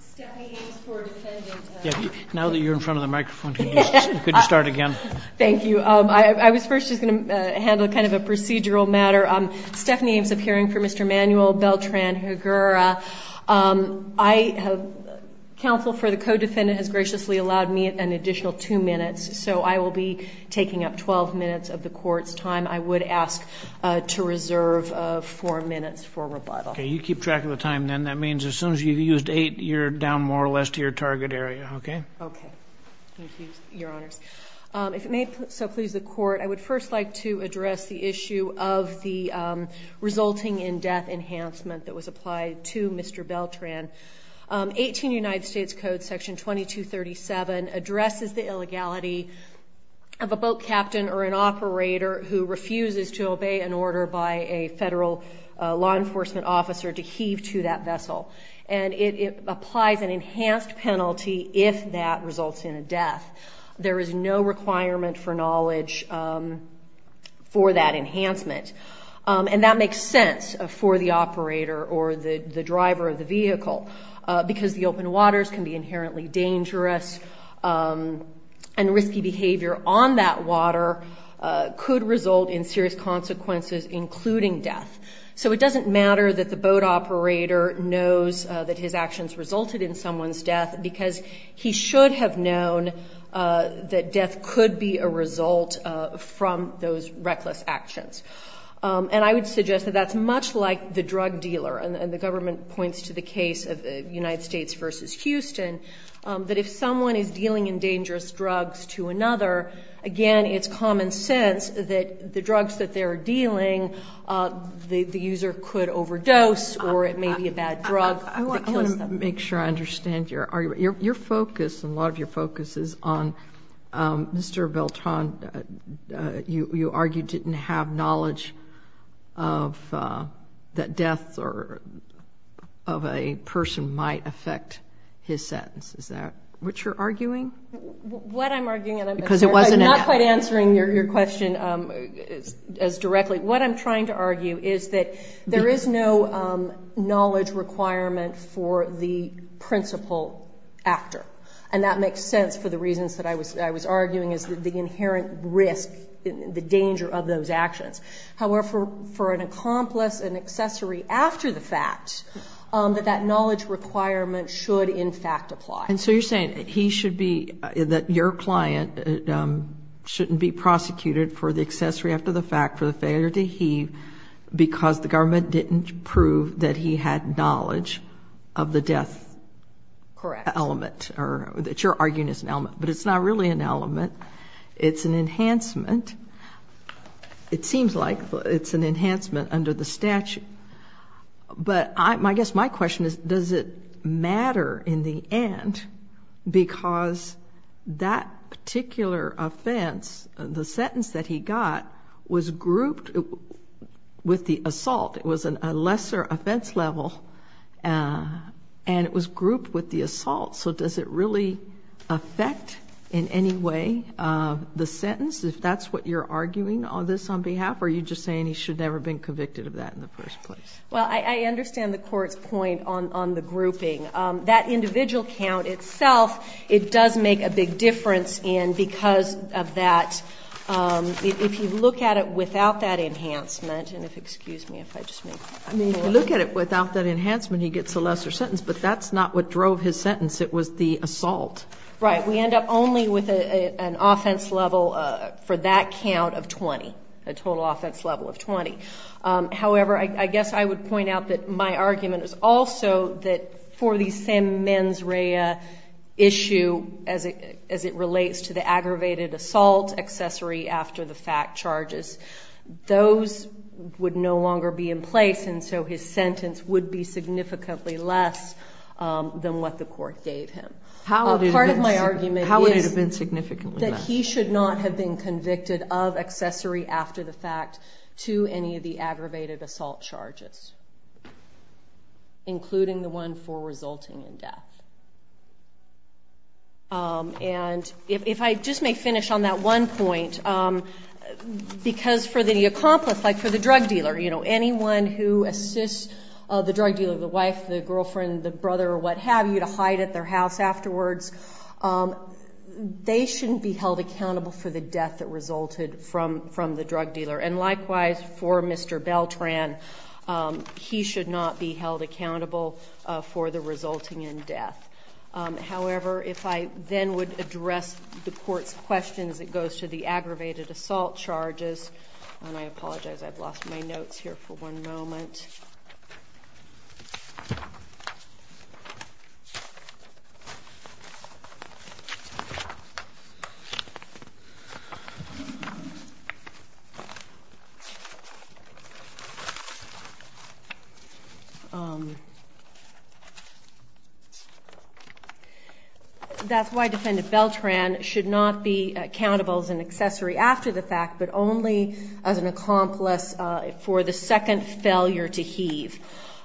Stephanie Ames of hearing for Mr. Manuel Beltran-Higuera, counsel for the co-defendant has graciously allowed me an additional two minutes, so I will be taking up 12 minutes of the court's time. I would ask to reserve four minutes for rebuttal. Okay. You keep track of the time, then. That means as soon as you've used eight, you're down more or less to your target area, okay? Okay. Thank you, Your Honors. If it may so please the court, I would first like to address the issue of the resulting in death enhancement that was applied to Mr. Beltran. 18 United States Code, section 2237 addresses the illegality of a boat captain or an operator who refuses to obey an order by a federal law enforcement officer to heave to that vessel. And it applies an enhanced penalty if that results in a death. There is no requirement for knowledge for that enhancement. And that makes sense for the operator or the driver of the vehicle, because the open waters can be inherently dangerous, and risky behavior on that water could result in serious consequences, including death. So it doesn't matter that the boat operator knows that his actions resulted in someone's death because he should have known that death could be a result from those reckless actions. And I would suggest that that's much like the drug dealer, and the government points to the case of United States v. Houston, that if someone is dealing in dangerous drugs to another, again, it's common sense that the drugs that they're dealing, the user could overdose or it may be a bad drug that kills them. I want to make sure I understand your argument. Your focus and a lot of your focus is on Mr. Beltran. You argued he didn't have knowledge that death of a person might affect his sentence. Is that what you're arguing? What I'm arguing, and I'm not quite answering your question as directly, what I'm trying to argue is that there is no knowledge requirement for the principal actor. And that makes sense for the reasons that I was arguing is the inherent risk, the danger of those actions. However, for an accomplice, an accessory after the fact, that that knowledge requirement should in fact apply. And so you're saying he should be, that your client shouldn't be prosecuted for the accessory after the fact for the failure to heave because the government didn't prove that he had knowledge of the death element. Correct. That your argument is an element, but it's not really an element. It's an enhancement. It seems like it's an enhancement under the statute. But I guess my question is, does it matter in the end because that particular offense, the sentence that he got, was grouped with the assault. It was a lesser offense level and it was grouped with the assault. So does it really affect in any way the sentence if that's what you're arguing on this on behalf or are you just saying he should never have been convicted of that in the first place? Well, I understand the court's point on the grouping. That individual count itself, it does make a big difference and because of that, if you look at it without that enhancement, and if, excuse me, if I just may. I mean, if you look at it without that enhancement, he gets a lesser sentence, but that's not what drove his sentence. It was the assault. Right. We end up only with an offense level for that count of 20, a total offense level of 20. However, I guess I would point out that my argument is also that for the same mens rea issue as it relates to the aggravated assault accessory after the fact charges, those would no longer be in place and so his sentence would be significantly less than what the court gave him. How would it have been significantly less? Part of my argument is that he should not have been convicted of accessory after the fact to any of the aggravated assault charges, including the one for resulting in death. And if I just may finish on that one point, because for the accomplice, like for the drug dealer, you know, anyone who assists the drug dealer, the wife, the girlfriend, the brother, or what have you, to hide at their house afterwards, they shouldn't be held accountable for the death that resulted from the drug dealer. And likewise, for Mr. Beltran, he should not be held accountable for the resulting in death. However, if I then would address the court's questions that goes to the aggravated assault charges, and I apologize, I've lost my notes here for one moment. That's why Defendant Beltran should not be accountable as an accessory after the fact, but only as an accomplice for the second failure to heave.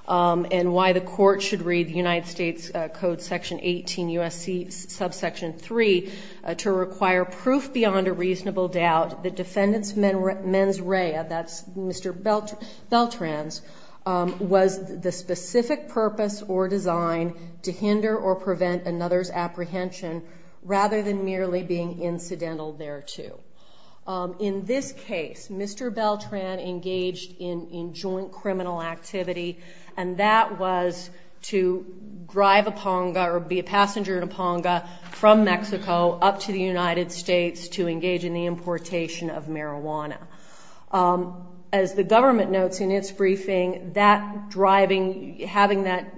And why the court should read the United States Code Section 18 U.S.C. Subsection 3 to require proof beyond a reasonable doubt that Defendant's mens rea, that's Mr. Beltran's, was the specific purpose or design to hinder or prevent another's apprehension rather than merely being incidental thereto. In this case, Mr. Beltran engaged in joint criminal activity, and that was to drive a Ponga or be a passenger in a Ponga from Mexico up to the United States to engage in the importation of marijuana. As the government notes in its briefing, that driving, having that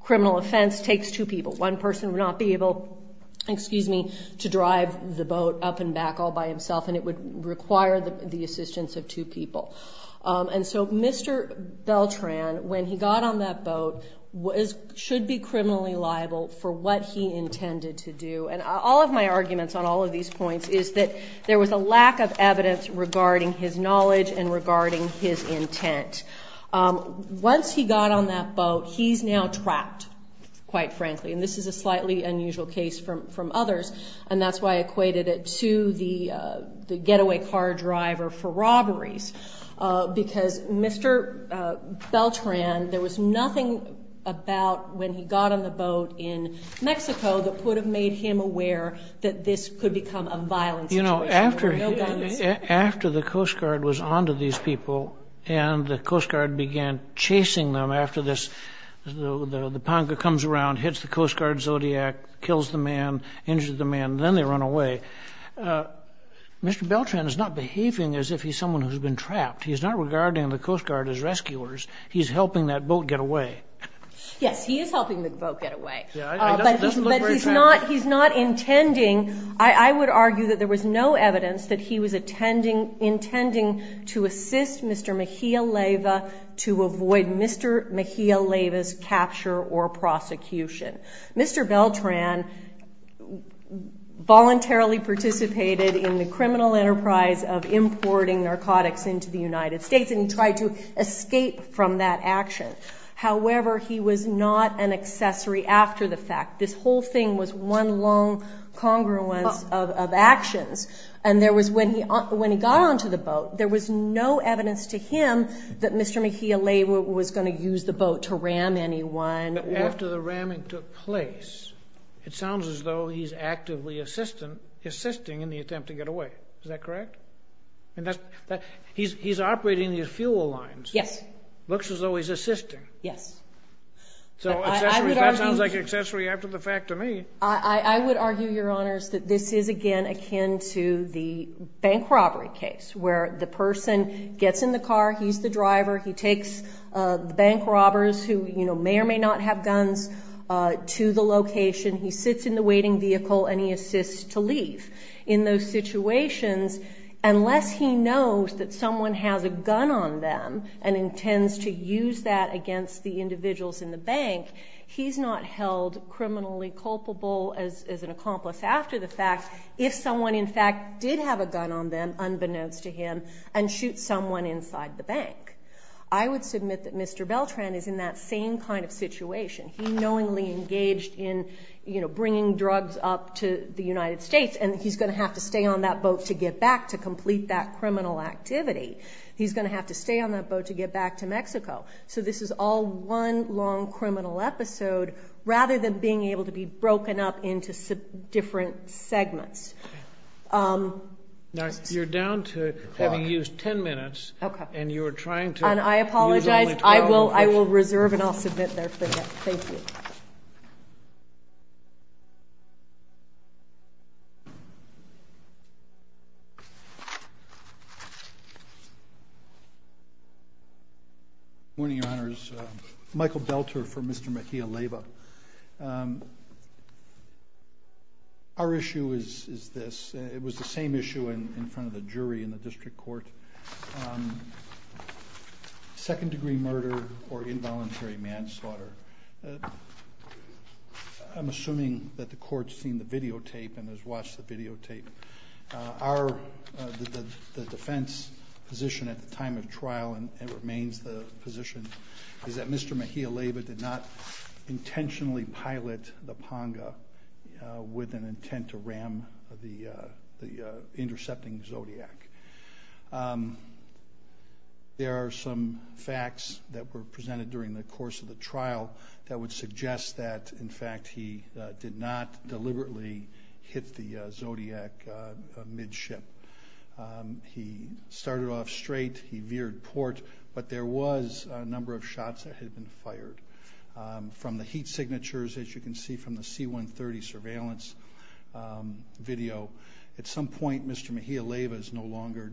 criminal offense takes two people. One person would not be able, excuse me, to drive the boat up and back all by himself and it would require the assistance of two people. And so Mr. Beltran, when he got on that boat, should be criminally liable for what he intended to do. And all of my arguments on all of these points is that there was a lack of evidence regarding his knowledge and regarding his intent. Once he got on that boat, he's now trapped, quite frankly. And this is a slightly unusual case from others. And that's why I equated it to the getaway car driver for robberies. Because Mr. Beltran, there was nothing about when he got on the boat in Mexico that would have made him aware that this could become a violent situation. No guns. After the Coast Guard was on to these people and the Coast Guard began chasing them after this, the Ponca comes around, hits the Coast Guard Zodiac, kills the man, injures the man, and then they run away. Mr. Beltran is not behaving as if he's someone who's been trapped. He's not regarding the Coast Guard as rescuers. He's helping that boat get away. Yes, he is helping the boat get away. But he's not intending, I would argue, that there was no evidence that he was attempting intending to assist Mr. Mejia-Leva to avoid Mr. Mejia-Leva's capture or prosecution. Mr. Beltran voluntarily participated in the criminal enterprise of importing narcotics into the United States, and he tried to escape from that action. However, he was not an accessory after the fact. This whole thing was one long congruence of actions. And there was, when he got onto the boat, there was no evidence to him that Mr. Mejia-Leva was going to use the boat to ram anyone. But after the ramming took place, it sounds as though he's actively assisting in the attempt to get away. Is that correct? And he's operating these fuel lines. Yes. Looks as though he's assisting. Yes. So that sounds like accessory after the fact to me. I would argue, Your Honors, that this is, again, akin to the bank robbery case, where the person gets in the car. He's the driver. He takes the bank robbers, who may or may not have guns, to the location. He sits in the waiting vehicle, and he assists to leave. In those situations, unless he knows that someone has a gun on them and intends to use that against the individuals in the bank, he's not held criminally culpable as an accomplice after the fact if someone, in fact, did have a gun on them, unbeknownst to him, and shoot someone inside the bank. I would submit that Mr. Beltran is in that same kind of situation. He knowingly engaged in bringing drugs up to the United States, and he's going to have to stay on that boat to get back to complete that criminal activity. So this is all one long criminal episode, rather than being able to be broken up into different segments. Now, you're down to, having used 10 minutes, and you're trying to use only 12 questions. And I apologize. I will reserve, and I'll submit there for that. Thank you. Morning, Your Honors. Michael Belter for Mr. Mejia-Lewa. Our issue is this. It was the same issue in front of the jury in the district court. Second degree murder or involuntary manslaughter. I'm assuming that the court's seen the videotape and has watched the videotape. Our defense position at the time of trial, and it remains the position, is that Mr. Mejia-Lewa did not intentionally pilot the Ponga with an intent to ram the intercepting Zodiac. There are some facts that were presented during the course of the trial that would suggest that, in fact, he did not deliberately hit the Zodiac midship. He started off straight. He veered port. But there was a number of shots that had been fired. From the heat signatures, as you can see from the C-130 surveillance video, at some point, Mr. Mejia-Lewa is no longer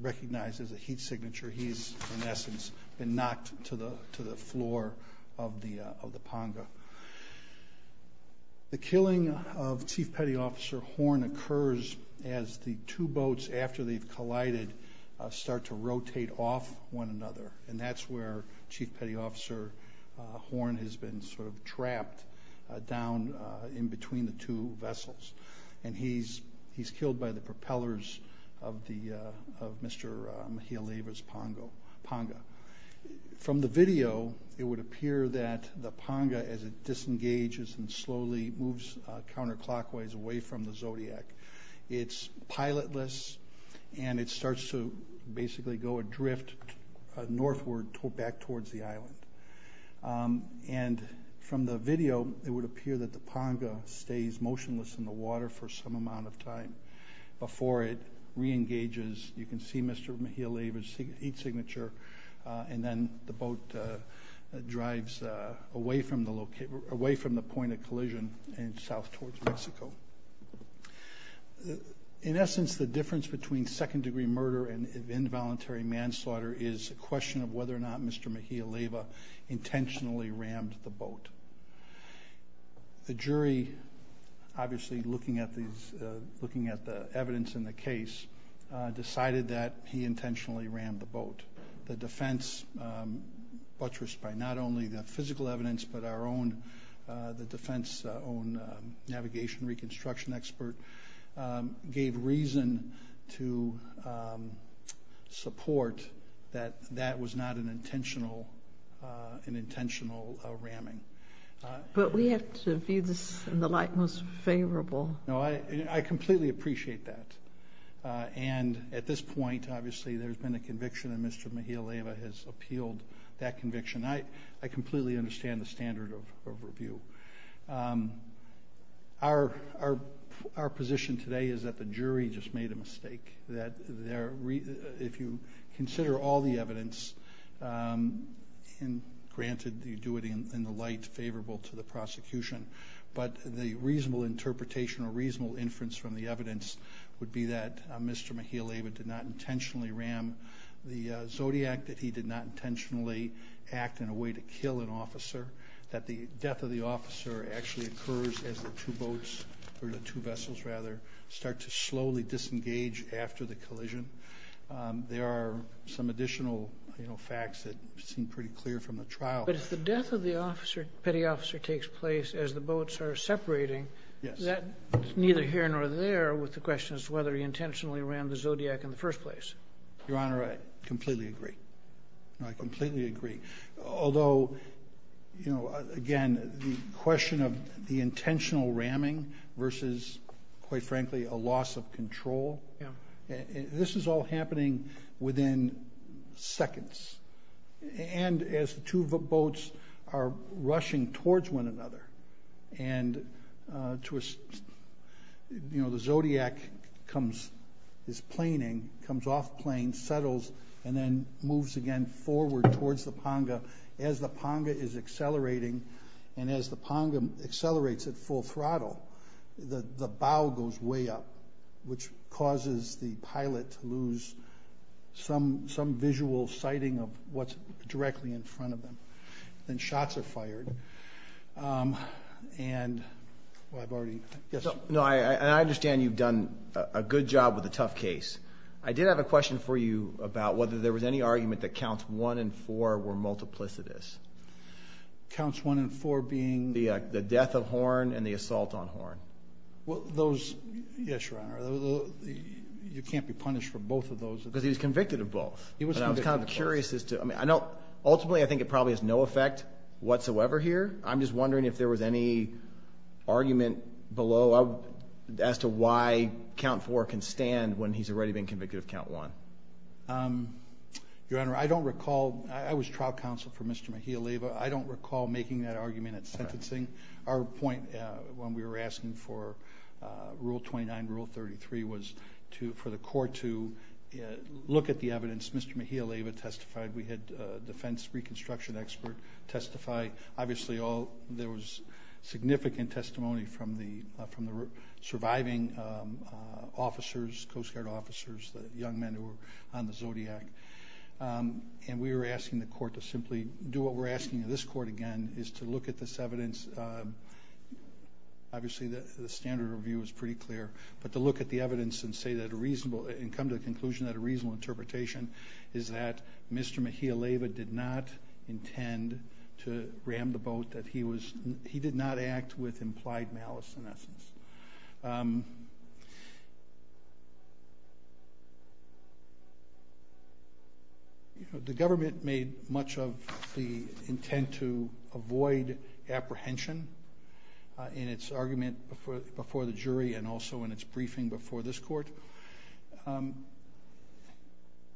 recognized as a heat signature. He's, in essence, been knocked to the floor of the Ponga. The killing of Chief Petty Officer Horn occurs as the two boats, after they've collided, start to rotate off one another. And that's where Chief Petty Officer Horn has been sort of trapped down in between the two vessels. And he's killed by the propellers of Mr. Mejia-Lewa's Ponga. From the video, it would appear that the Ponga, as it disengages and slowly moves counterclockwise away from the Zodiac, it's pilotless, and it starts to basically go adrift northward back towards the island. And from the video, it would appear that the Ponga stays motionless in the water for some amount of time before it re-engages. You can see Mr. Mejia-Lewa's heat signature. And south towards Mexico. In essence, the difference between second-degree murder and involuntary manslaughter is a question of whether or not Mr. Mejia-Lewa intentionally rammed the boat. The jury, obviously looking at the evidence in the case, decided that he intentionally rammed the boat. The defense, buttressed by not only the physical evidence, but the defense's own navigation reconstruction expert, gave reason to support that that was not an intentional ramming. But we have to view this in the light most favorable. No, I completely appreciate that. And at this point, obviously, there's been a conviction, and Mr. Mejia-Lewa has appealed that conviction. I completely understand the standard of review. Our position today is that the jury just made a mistake. That if you consider all the evidence, and granted you do it in the light favorable to the prosecution, but the reasonable interpretation or reasonable inference from the evidence would be that Mr. Mejia-Lewa did not intentionally ram the Zodiac, that he did not intentionally act in a way to kill an officer, that the death of the officer actually occurs as the two boats, or the two vessels, rather, start to slowly disengage after the collision. There are some additional facts that seem pretty clear from the trial. But if the death of the officer, petty officer, takes place as the boats are separating, that's neither here nor there with the question as to whether he intentionally rammed the Zodiac in the first place. Your Honor, I completely agree. I completely agree. Although, again, the question of the intentional ramming versus, quite frankly, a loss of control, this is all happening within seconds. And as the two boats are rushing towards one another, and the Zodiac is planing, comes off plane, settles, and then moves again forward towards the Ponga. As the Ponga is accelerating, and as the Ponga accelerates at full throttle, the bow goes way up, which causes the pilot to lose some visual sighting of what's directly in front of them. Then shots are fired. And I've already, I guess. No, I understand you've done a good job with the tough case. I did have a question for you about whether there was any argument that counts one and four were multiplicitous. Counts one and four being? The death of Horn and the assault on Horn. Well, those, yes, Your Honor. You can't be punished for both of those. Because he was convicted of both. And I was kind of curious as to, I mean, I don't, ultimately, I think it probably has no effect whatsoever here. I'm just wondering if there was any argument below as to why count four can stand when he's already been convicted of count one. Your Honor, I don't recall, I was trial counsel for Mr. Mejia-Leva. I don't recall making that argument at sentencing. Our point when we were asking for Rule 29, Rule 33, was for the court to look at the evidence. Mr. Mejia-Leva testified. We had a defense reconstruction expert testify. Obviously, there was significant testimony from the surviving officers, Coast Guard officers, the young men who were on the Zodiac. And we were asking the court to simply do what we're asking of this court again, is to look at this evidence. Obviously, the standard review is pretty clear. But to look at the evidence and come to the conclusion that a reasonable interpretation is that Mr. Mejia-Leva did not intend to ram the boat, that he did not act with implied malice, in essence. The government made much of the intent to avoid apprehension in its argument before the jury and also in its briefing before this court. And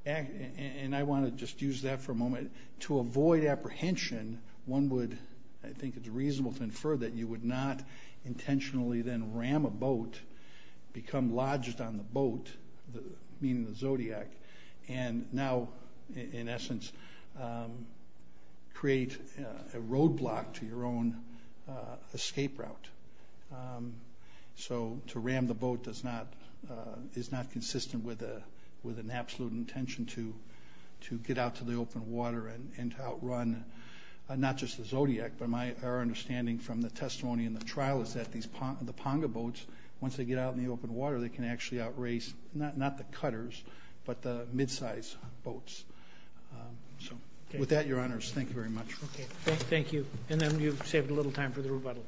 I want to just use that for a moment. To avoid apprehension, one would, I think it's reasonable to infer, that you would not intentionally then ram a boat, become lodged on the boat, meaning the Zodiac, and now, in essence, create a roadblock to your own escape route. So to ram the boat is not consistent with an absolute intention to get out to the open water and to outrun, not just the Zodiac, but our understanding from the testimony in the trial is that the Ponga boats, once they get out in the open water, they can actually outrace, not the cutters, but the mid-sized boats. So with that, your honors, thank you very much. OK, thank you. And then you've saved a little time for the rebuttal.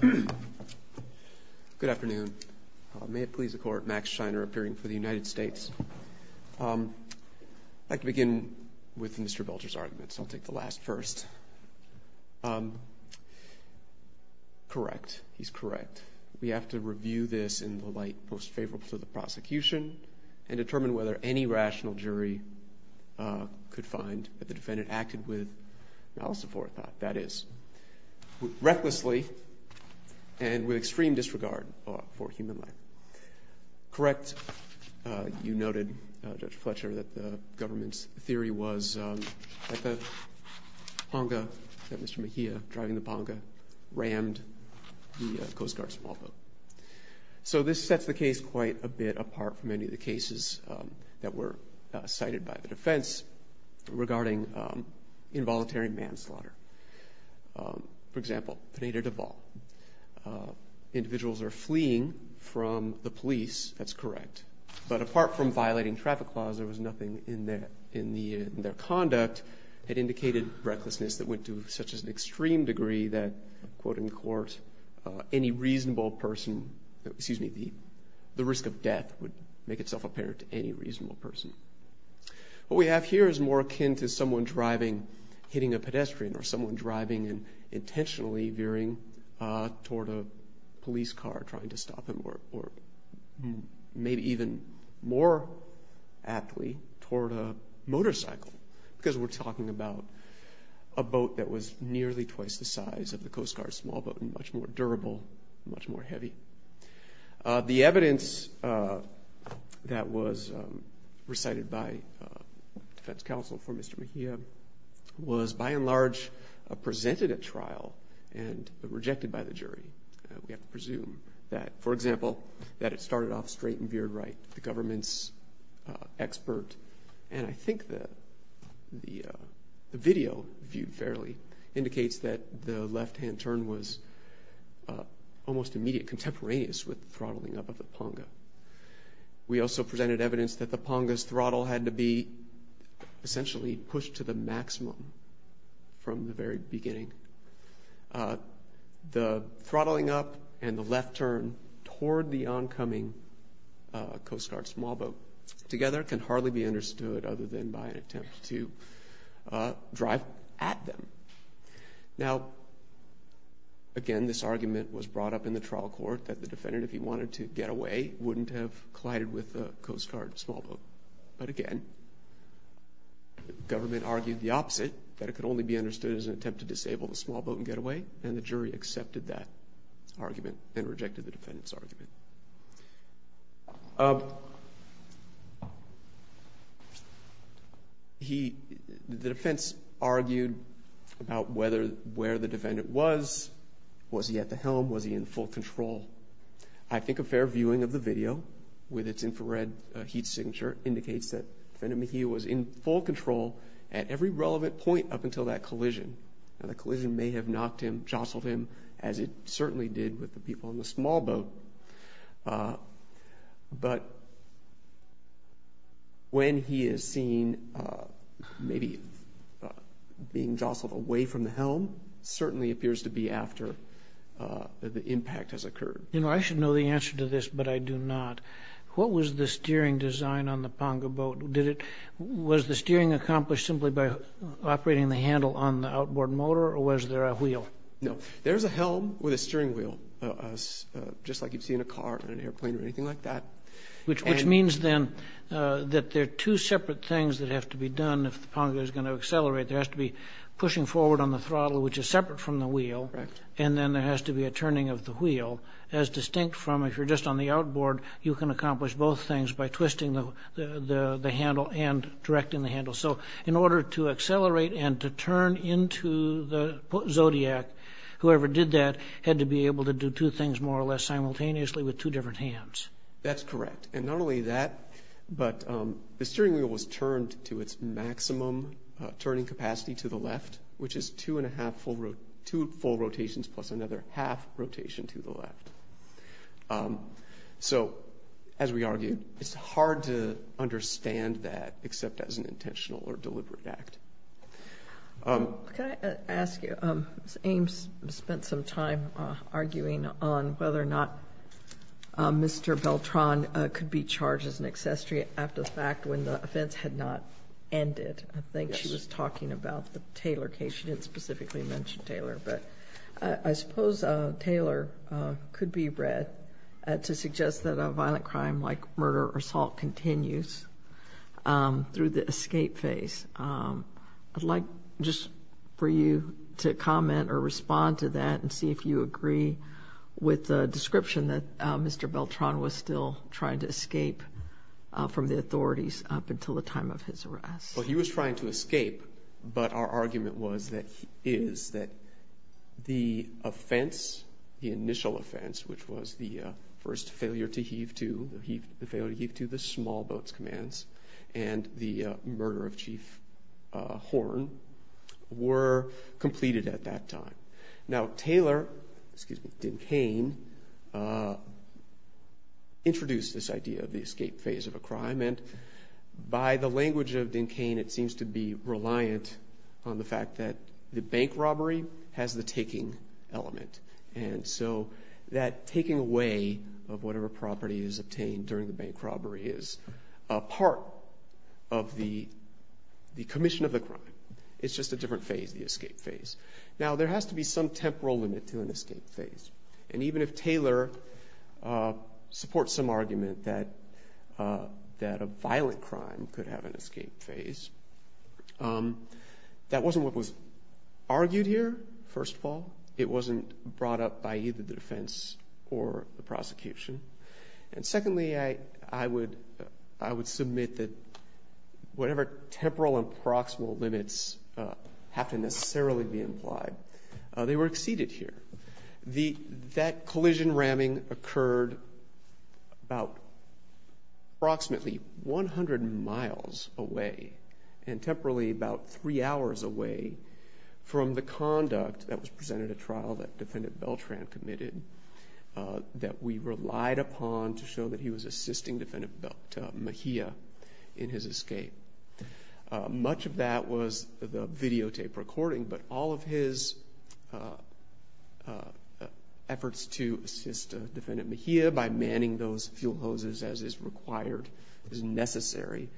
Good afternoon. May it please the court, Max Scheiner, appearing for the United States. I'd like to begin with Mr. Belcher's argument, so I'll take the last first. Correct, he's correct. We have to review this in the light most favorable to the prosecution and determine whether any rational jury could find that the defendant acted with malice aforethought, that is, recklessly and with extreme disregard for human life. Correct, you noted, Judge Fletcher, that the government's theory was that the Ponga, that Mr. Mejia driving the Ponga rammed the Coast Guard small boat. So this sets the case quite a bit apart from any of the cases that were cited by the defense regarding involuntary manslaughter. For example, Pineda-Deval, individuals are fleeing from the police, that's correct, but apart from violating traffic laws, there was nothing in their conduct that indicated recklessness that went to such an extreme degree that, quote in court, any reasonable person, excuse me, the risk of death would make itself apparent to any reasonable person. What we have here is more akin to someone driving, hitting a pedestrian or someone driving and intentionally veering toward a police car trying to stop him or maybe even more aptly toward a motorcycle because we're talking about a boat that was nearly twice the size of the Coast Guard's small boat and much more durable, much more heavy. The evidence that was recited by defense counsel for Mr. Mejia was by and large presented at trial and rejected by the jury. We have to presume that, for example, that it started off straight and veered right, the government's expert. And I think the video viewed fairly indicates that the left-hand turn was almost immediate contemporaneous with throttling up of the Ponga. We also presented evidence that the Ponga's throttle had to be essentially pushed to the maximum from the very beginning. The throttling up and the left turn toward the oncoming Coast Guard small boat together can hardly be understood other than by an attempt to drive at them. Now, again, this argument was brought up in the trial court that the defendant, if he wanted to get away, wouldn't have collided with the Coast Guard small boat. But again, government argued the opposite, that it could only be understood as an attempt to disable the small boat and get away. And the jury accepted that argument and rejected the defendant's argument. The defense argued about where the defendant was. Was he at the helm? Was he in full control? I think a fair viewing of the video with its infrared heat signature indicates that defendant Mejia was in full control at every relevant point up until that collision. And the collision may have knocked him, jostled him, as it certainly did with the people in the small boat. But when he is seen maybe being jostled away from the helm, certainly appears to be after the impact has occurred. You know, I should know the answer to this, but I do not. What was the steering design on the Ponga boat? Was the steering accomplished simply by operating the handle on the outboard motor, or was there a wheel? No. There's a helm with a steering wheel, just like you'd see in a car or an airplane or anything like that. Which means then that there are two separate things that have to be done if the Ponga is going to accelerate. There has to be pushing forward on the throttle, which is separate from the wheel, and then there has to be a turning of the wheel. As distinct from if you're just on the outboard, you can accomplish both things by twisting the handle and directing the handle. So in order to accelerate and to turn into the Zodiac, whoever did that had to be able to do two things more or less simultaneously with two different hands. That's correct. And not only that, but the steering wheel was turned to its maximum turning capacity to the left, which is two full rotations plus another half rotation to the left. So as we argued, it's hard to understand that except as an intentional or deliberate act. Can I ask you, Ms. Ames spent some time arguing on whether or not Mr. Beltran could be charged as an accessory after the fact when the offense had not ended. I think she was talking about the Taylor case. She didn't specifically mention Taylor. But I suppose Taylor could be read to suggest that a violent crime like murder or assault continues through the escape phase. I'd like just for you to comment or respond to that and see if you agree with the description that Mr. Beltran was still trying to escape from the authorities up until the time of his arrest. Well, he was trying to escape, but our argument is that the offense, the initial offense, which was the first failure to heave to the small boats commands and the murder of Chief Horn, were completed at that time. Now, Taylor, excuse me, Dinkane, introduced this idea of the escape phase of a crime. By the language of Dinkane, it seems to be reliant on the fact that the bank robbery has the taking element. And so that taking away of whatever property is obtained during the bank robbery is a part of the commission of the crime. It's just a different phase, the escape phase. Now, there has to be some temporal limit to an escape phase. And even if Taylor supports some argument that a violent crime could have an escape phase, that wasn't what was argued here, first of all. It wasn't brought up by either the defense or the prosecution. And secondly, I would submit that whatever temporal and proximal limits have to necessarily be implied, they were exceeded here. That collision ramming occurred about approximately 100 miles away and temporally about three hours away from the conduct that was presented at trial that Defendant Beltran committed that we relied upon to show that he was assisting Defendant Mejia in his escape. Much of that was the videotape recording. But all of his efforts to assist Defendant Mejia by manning those fuel hoses as is required, as necessary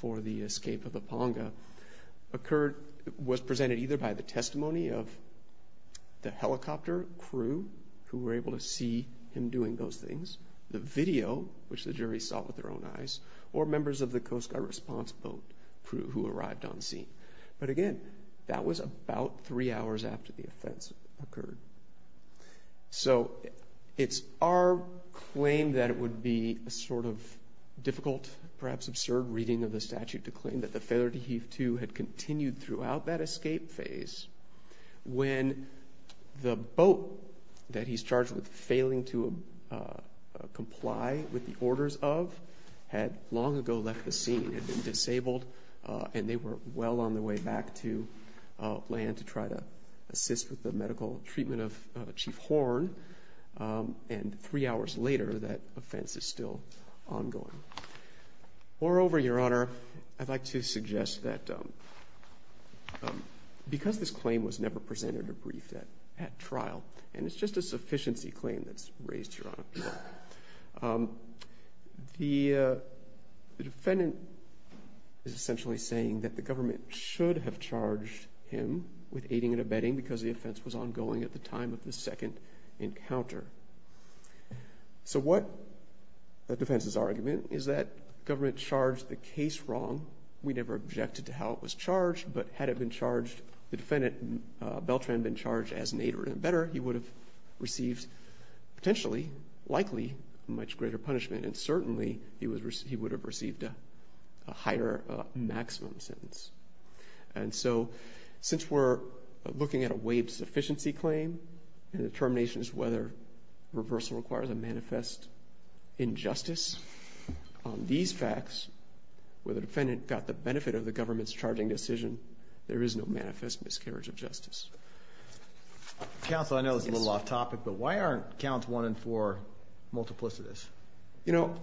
for the escape of the Ponga, occurred, was presented either by the testimony of the helicopter crew who were able to see him doing those things, the video, which the jury saw with their own eyes, or members of the Coast Guard response boat crew who arrived on scene. But again, that was about three hours after the offense occurred. So it's our claim that it would be a sort of difficult, perhaps absurd, reading of the statute to claim that the failure to heave to had continued throughout that escape phase when the boat that he's charged with failing to comply with the orders of had long ago left the scene. Had been disabled, and they were well on the way back to land to try to assist with the medical treatment of Chief Horn, and three hours later that offense is still ongoing. Moreover, Your Honor, I'd like to suggest that because this claim was never presented or briefed at trial, and it's just a sufficiency claim that's raised, Your Honor, the defendant is essentially saying that the government should have charged him with aiding and abetting because the offense was ongoing at the time of the second encounter. So what the defense's argument is that government charged the case wrong. We never objected to how it was charged, but had it been charged, the defendant, Beltran, been charged as an aid or an abetter, he would have received potentially, likely, much greater punishment. And certainly, he would have received a higher maximum sentence. And so, since we're looking at a waived sufficiency claim, and the termination is whether reversal requires a manifest injustice. On these facts, where the defendant got the benefit of the government's charging the case. Counsel, I know it's a little off topic, but why aren't counts one and four multiplicitous? You know,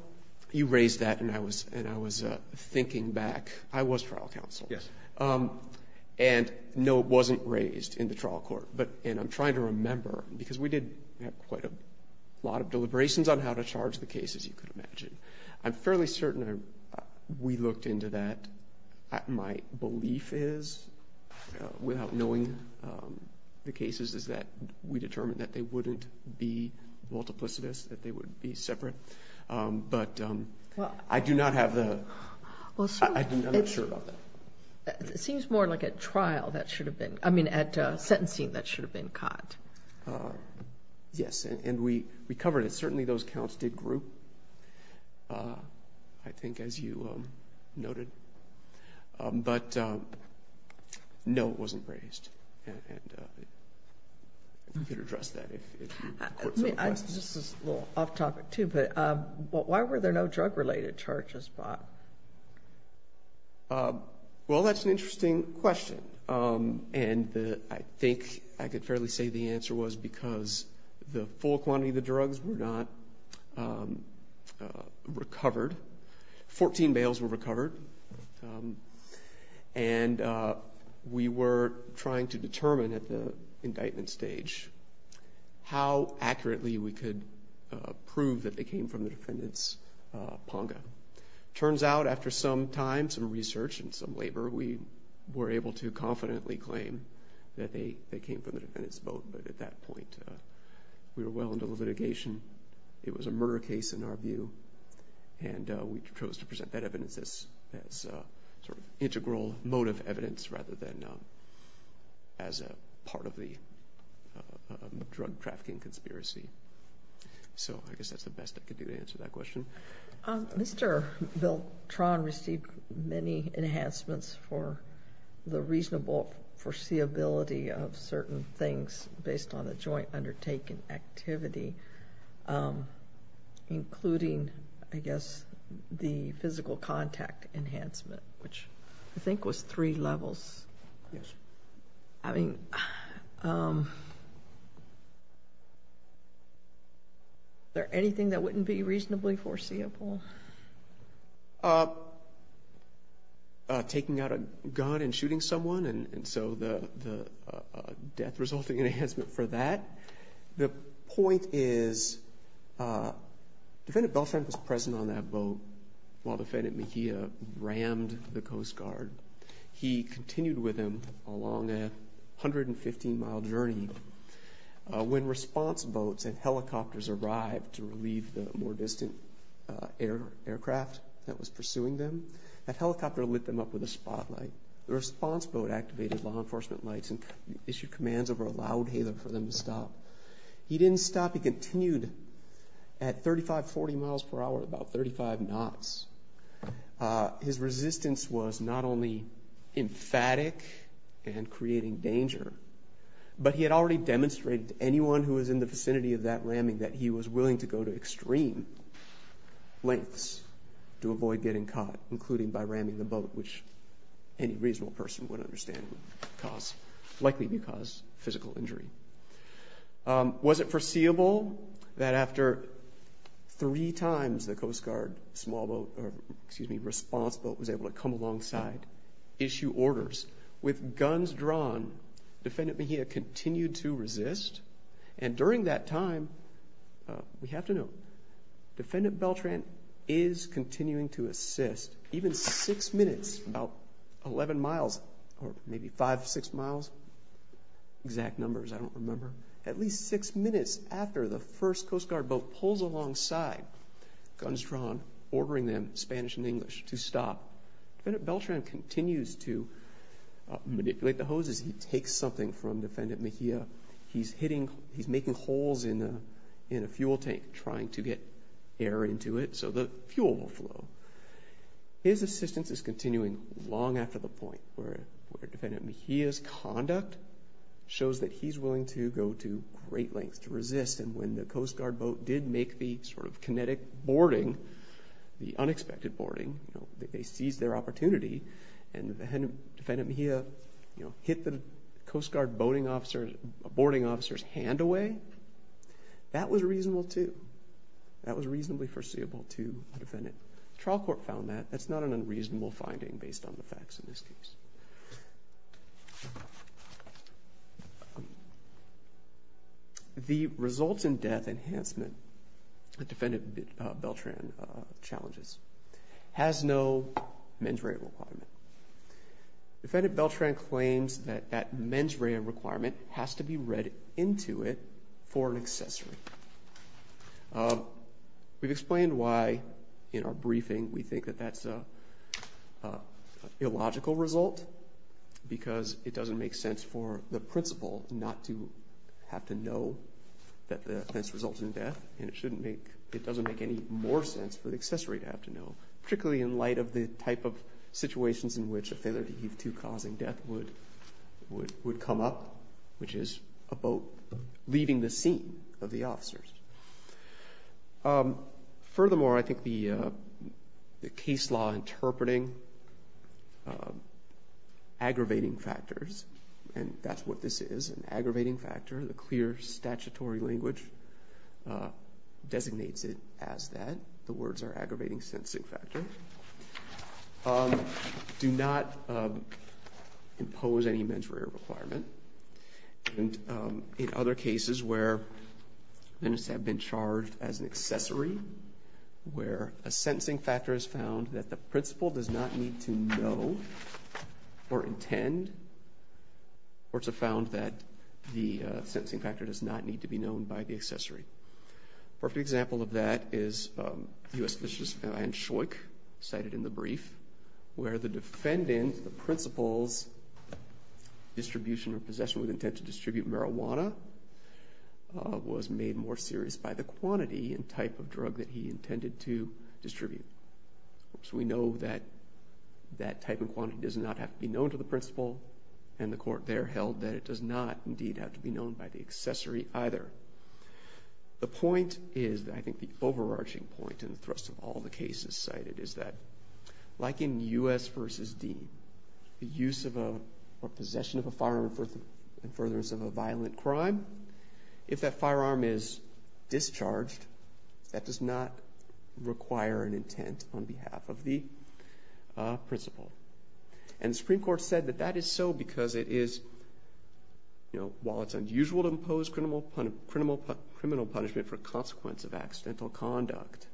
you raised that, and I was thinking back. I was trial counsel. Yes. And, no, it wasn't raised in the trial court. But, and I'm trying to remember, because we did have quite a lot of deliberations on how to charge the case, as you could imagine. I'm fairly certain we looked into that. My belief is, without knowing the cases, is that we determined that they wouldn't be multiplicitous, that they would be separate. But I do not have the, I'm not sure about that. It seems more like a trial that should have been, I mean, at sentencing that should have been caught. Yes, and we covered it. I think, as you noted, but no, it wasn't raised. And you could address that if you, if the court so requests. This is a little off topic, too, but why were there no drug related charges, Bob? Well, that's an interesting question. And the, I think I could fairly say the answer was because the full quantity of the drugs were not recovered. 14 bales were recovered. And we were trying to determine at the indictment stage how accurately we could prove that they came from the defendant's ponga. Turns out, after some time, some research, and some labor, we were able to confidently claim that they came from the defendant's boat. But at that point, we were well into the litigation. It was a murder case in our view. And we chose to present that evidence as sort of integral motive evidence, rather than as a part of the drug trafficking conspiracy. So I guess that's the best I could do to answer that question. Mr. Beltran received many enhancements for the reasonable foreseeability of certain things based on the joint undertaking activity, including, I guess, the physical contact enhancement, which I think was three levels. Yes. I mean, is there anything that wouldn't be reasonably foreseeable? Taking out a gun and shooting someone, and so the death resulting enhancement for that. The point is, Defendant Beltran was present on that boat while Defendant Mejia rammed the Coast Guard. He continued with him along a 115 mile journey. When response boats and helicopters arrived to relieve the more distant aircraft that was pursuing them, that helicopter lit them up with a spotlight. The response boat activated law enforcement lights and issued commands over a loud hailer for them to stop. He didn't stop, he continued at 35, 40 miles per hour, about 35 knots. His resistance was not only emphatic and creating danger, but he had already demonstrated to anyone who was in the vicinity of that ramming that he was willing to go to extreme lengths to avoid getting caught, including by ramming the boat, which any reasonable person would understand would likely cause physical injury. Was it foreseeable that after three times the Coast Guard small boat, or excuse me, response boat was able to come alongside, issue orders with guns drawn, Defendant Mejia continued to resist. And during that time, we have to note, Defendant Beltran is continuing to assist even six minutes, about 11 miles, or maybe five, six miles, exact numbers, I don't remember. At least six minutes after the first Coast Guard boat pulls alongside, guns drawn, ordering them, Spanish and English, to stop. Defendant Beltran continues to manipulate the hoses. He takes something from Defendant Mejia. He's making holes in a fuel tank, trying to get air into it, so the fuel will flow. His assistance is continuing long after the point where Defendant Mejia's conduct shows that he's willing to go to great lengths to resist. And when the Coast Guard boat did make the sort of kinetic boarding, the unexpected boarding, they seized their opportunity. And Defendant Mejia hit the Coast Guard boarding officer's hand away. That was reasonable, too. That was reasonably foreseeable, too, the Defendant. Trial court found that. That's not an unreasonable finding based on the facts in this case. The results in death enhancement that Defendant Beltran challenges has no mens rea requirement. Defendant Beltran claims that that mens rea requirement has to be read into it for an accessory. We've explained why, in our briefing, we think that that's an illogical result. Because it doesn't make sense for the principal not to have to know that this results in death, and it doesn't make any more sense for the accessory to have to know, particularly in light of the type of situations in which a failure to give due cause in death would come up, which is a boat leaving the scene of the officers. Furthermore, I think the case law interpreting aggravating factors, and that's what this is, an aggravating factor, the clear statutory language designates it as that. The words are aggravating sensing factor. Do not impose any mens rea requirement. And in other cases where men have been charged as an accessory, where a sensing factor is found that the principal does not need to know or intend, or to have found that the sensing factor does not need to be known by the accessory. Perfect example of that is U.S. Justice Van Schoik, cited in the brief, where the defendant, the principal's distribution or possession with intent to distribute marijuana was made more serious by the quantity and type of drug that he intended to distribute. So we know that that type of quantity does not have to be known to the principal, and the court there held that it does not, indeed, have to be known by the accessory either. The point is, I think the overarching point in the thrust of all the cases cited, is that, like in U.S. versus D, the use of a, or possession of a firearm in furtherance of a violent crime, if that firearm is discharged, that does not require an intent on behalf of the principal. And the Supreme Court said that that is so because it is, you know, while it's unusual to impose criminal punishment for consequence of accidental conduct,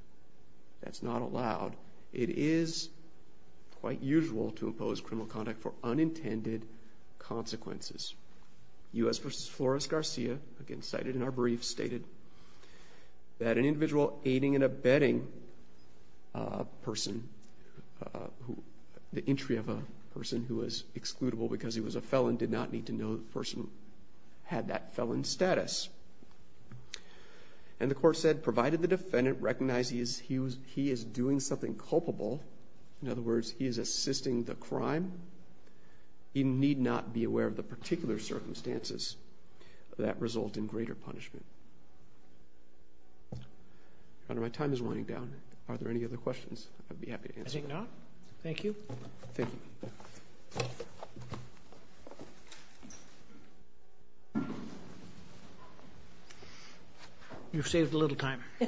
that's not allowed. It is quite usual to impose criminal conduct for unintended consequences. U.S. versus Flores-Garcia, again cited in our brief, stated that an individual aiding and abetting a person who, the entry of a person who was excludable because he was a felon, did not need to know the person had that felon status. And the court said, provided the defendant recognizes he is doing something culpable, in other words, he is assisting the crime, he need not be aware of the particular circumstances that result in greater punishment. Your Honor, my time is running down. Are there any other questions? I'd be happy to answer. I think not. Thank you. Thank you. You've saved a little time. A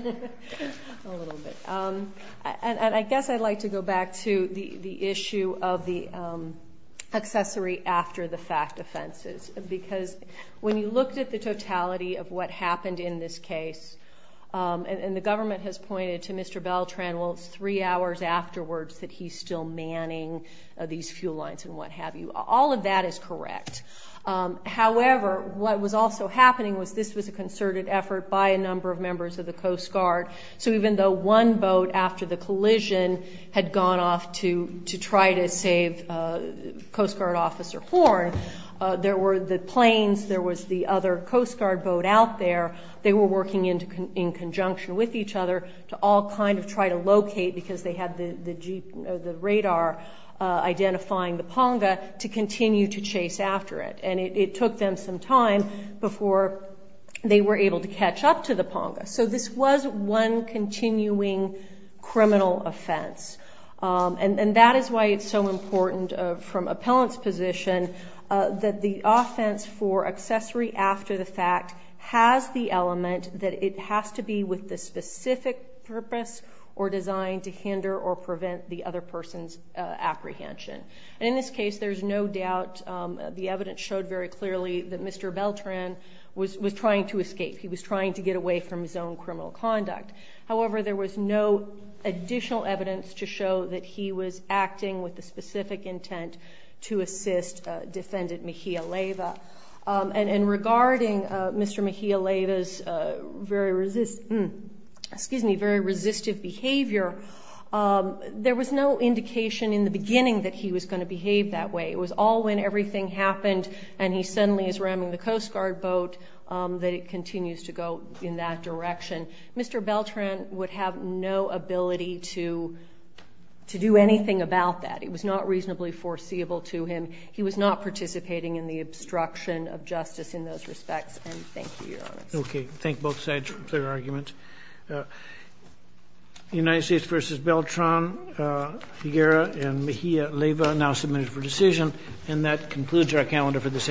little bit. And I guess I'd like to go back to the issue of the accessory after the fact offenses. Because when you looked at the totality of what happened in this case, and the government has pointed to Mr. Beltran, well, it's three hours afterwards that he's still manning these fuel lines and what have you. All of that is correct. However, what was also happening was this was a concerted effort by a number of members of the Coast Guard. So even though one boat after the collision had gone off to try to save Coast Guard Officer Horn, there were the planes, there was the other Coast Guard boat out there. They were working in conjunction with each other to all kind of try to locate, because they had the radar identifying the ponga, to continue to chase after it. And it took them some time before they were able to catch up to the ponga. So this was one continuing criminal offense. And that is why it's so important from appellant's position that the offense for accessory after the fact has the element that it has to be with the specific purpose or design to hinder or prevent the other person's apprehension. And in this case, there's no doubt, the evidence showed very clearly that Mr. Beltran was trying to escape. He was trying to get away from his own criminal conduct. However, there was no additional evidence to show that he was acting with the specific intent to assist Defendant Mejia-Leva. And regarding Mr. Mejia-Leva's very resist, excuse me, very resistive behavior. There was no indication in the beginning that he was going to behave that way. It was all when everything happened and he suddenly is ramming the Coast Guard boat that it continues to go in that direction. Mr. Beltran would have no ability to do anything about that. It was not reasonably foreseeable to him. He was not participating in the obstruction of justice in those respects, and thank you, Your Honor. Okay, thank both sides for their arguments. United States versus Beltran, Higuera and Mejia-Leva now submitted for decision. And that concludes our calendar for this afternoon.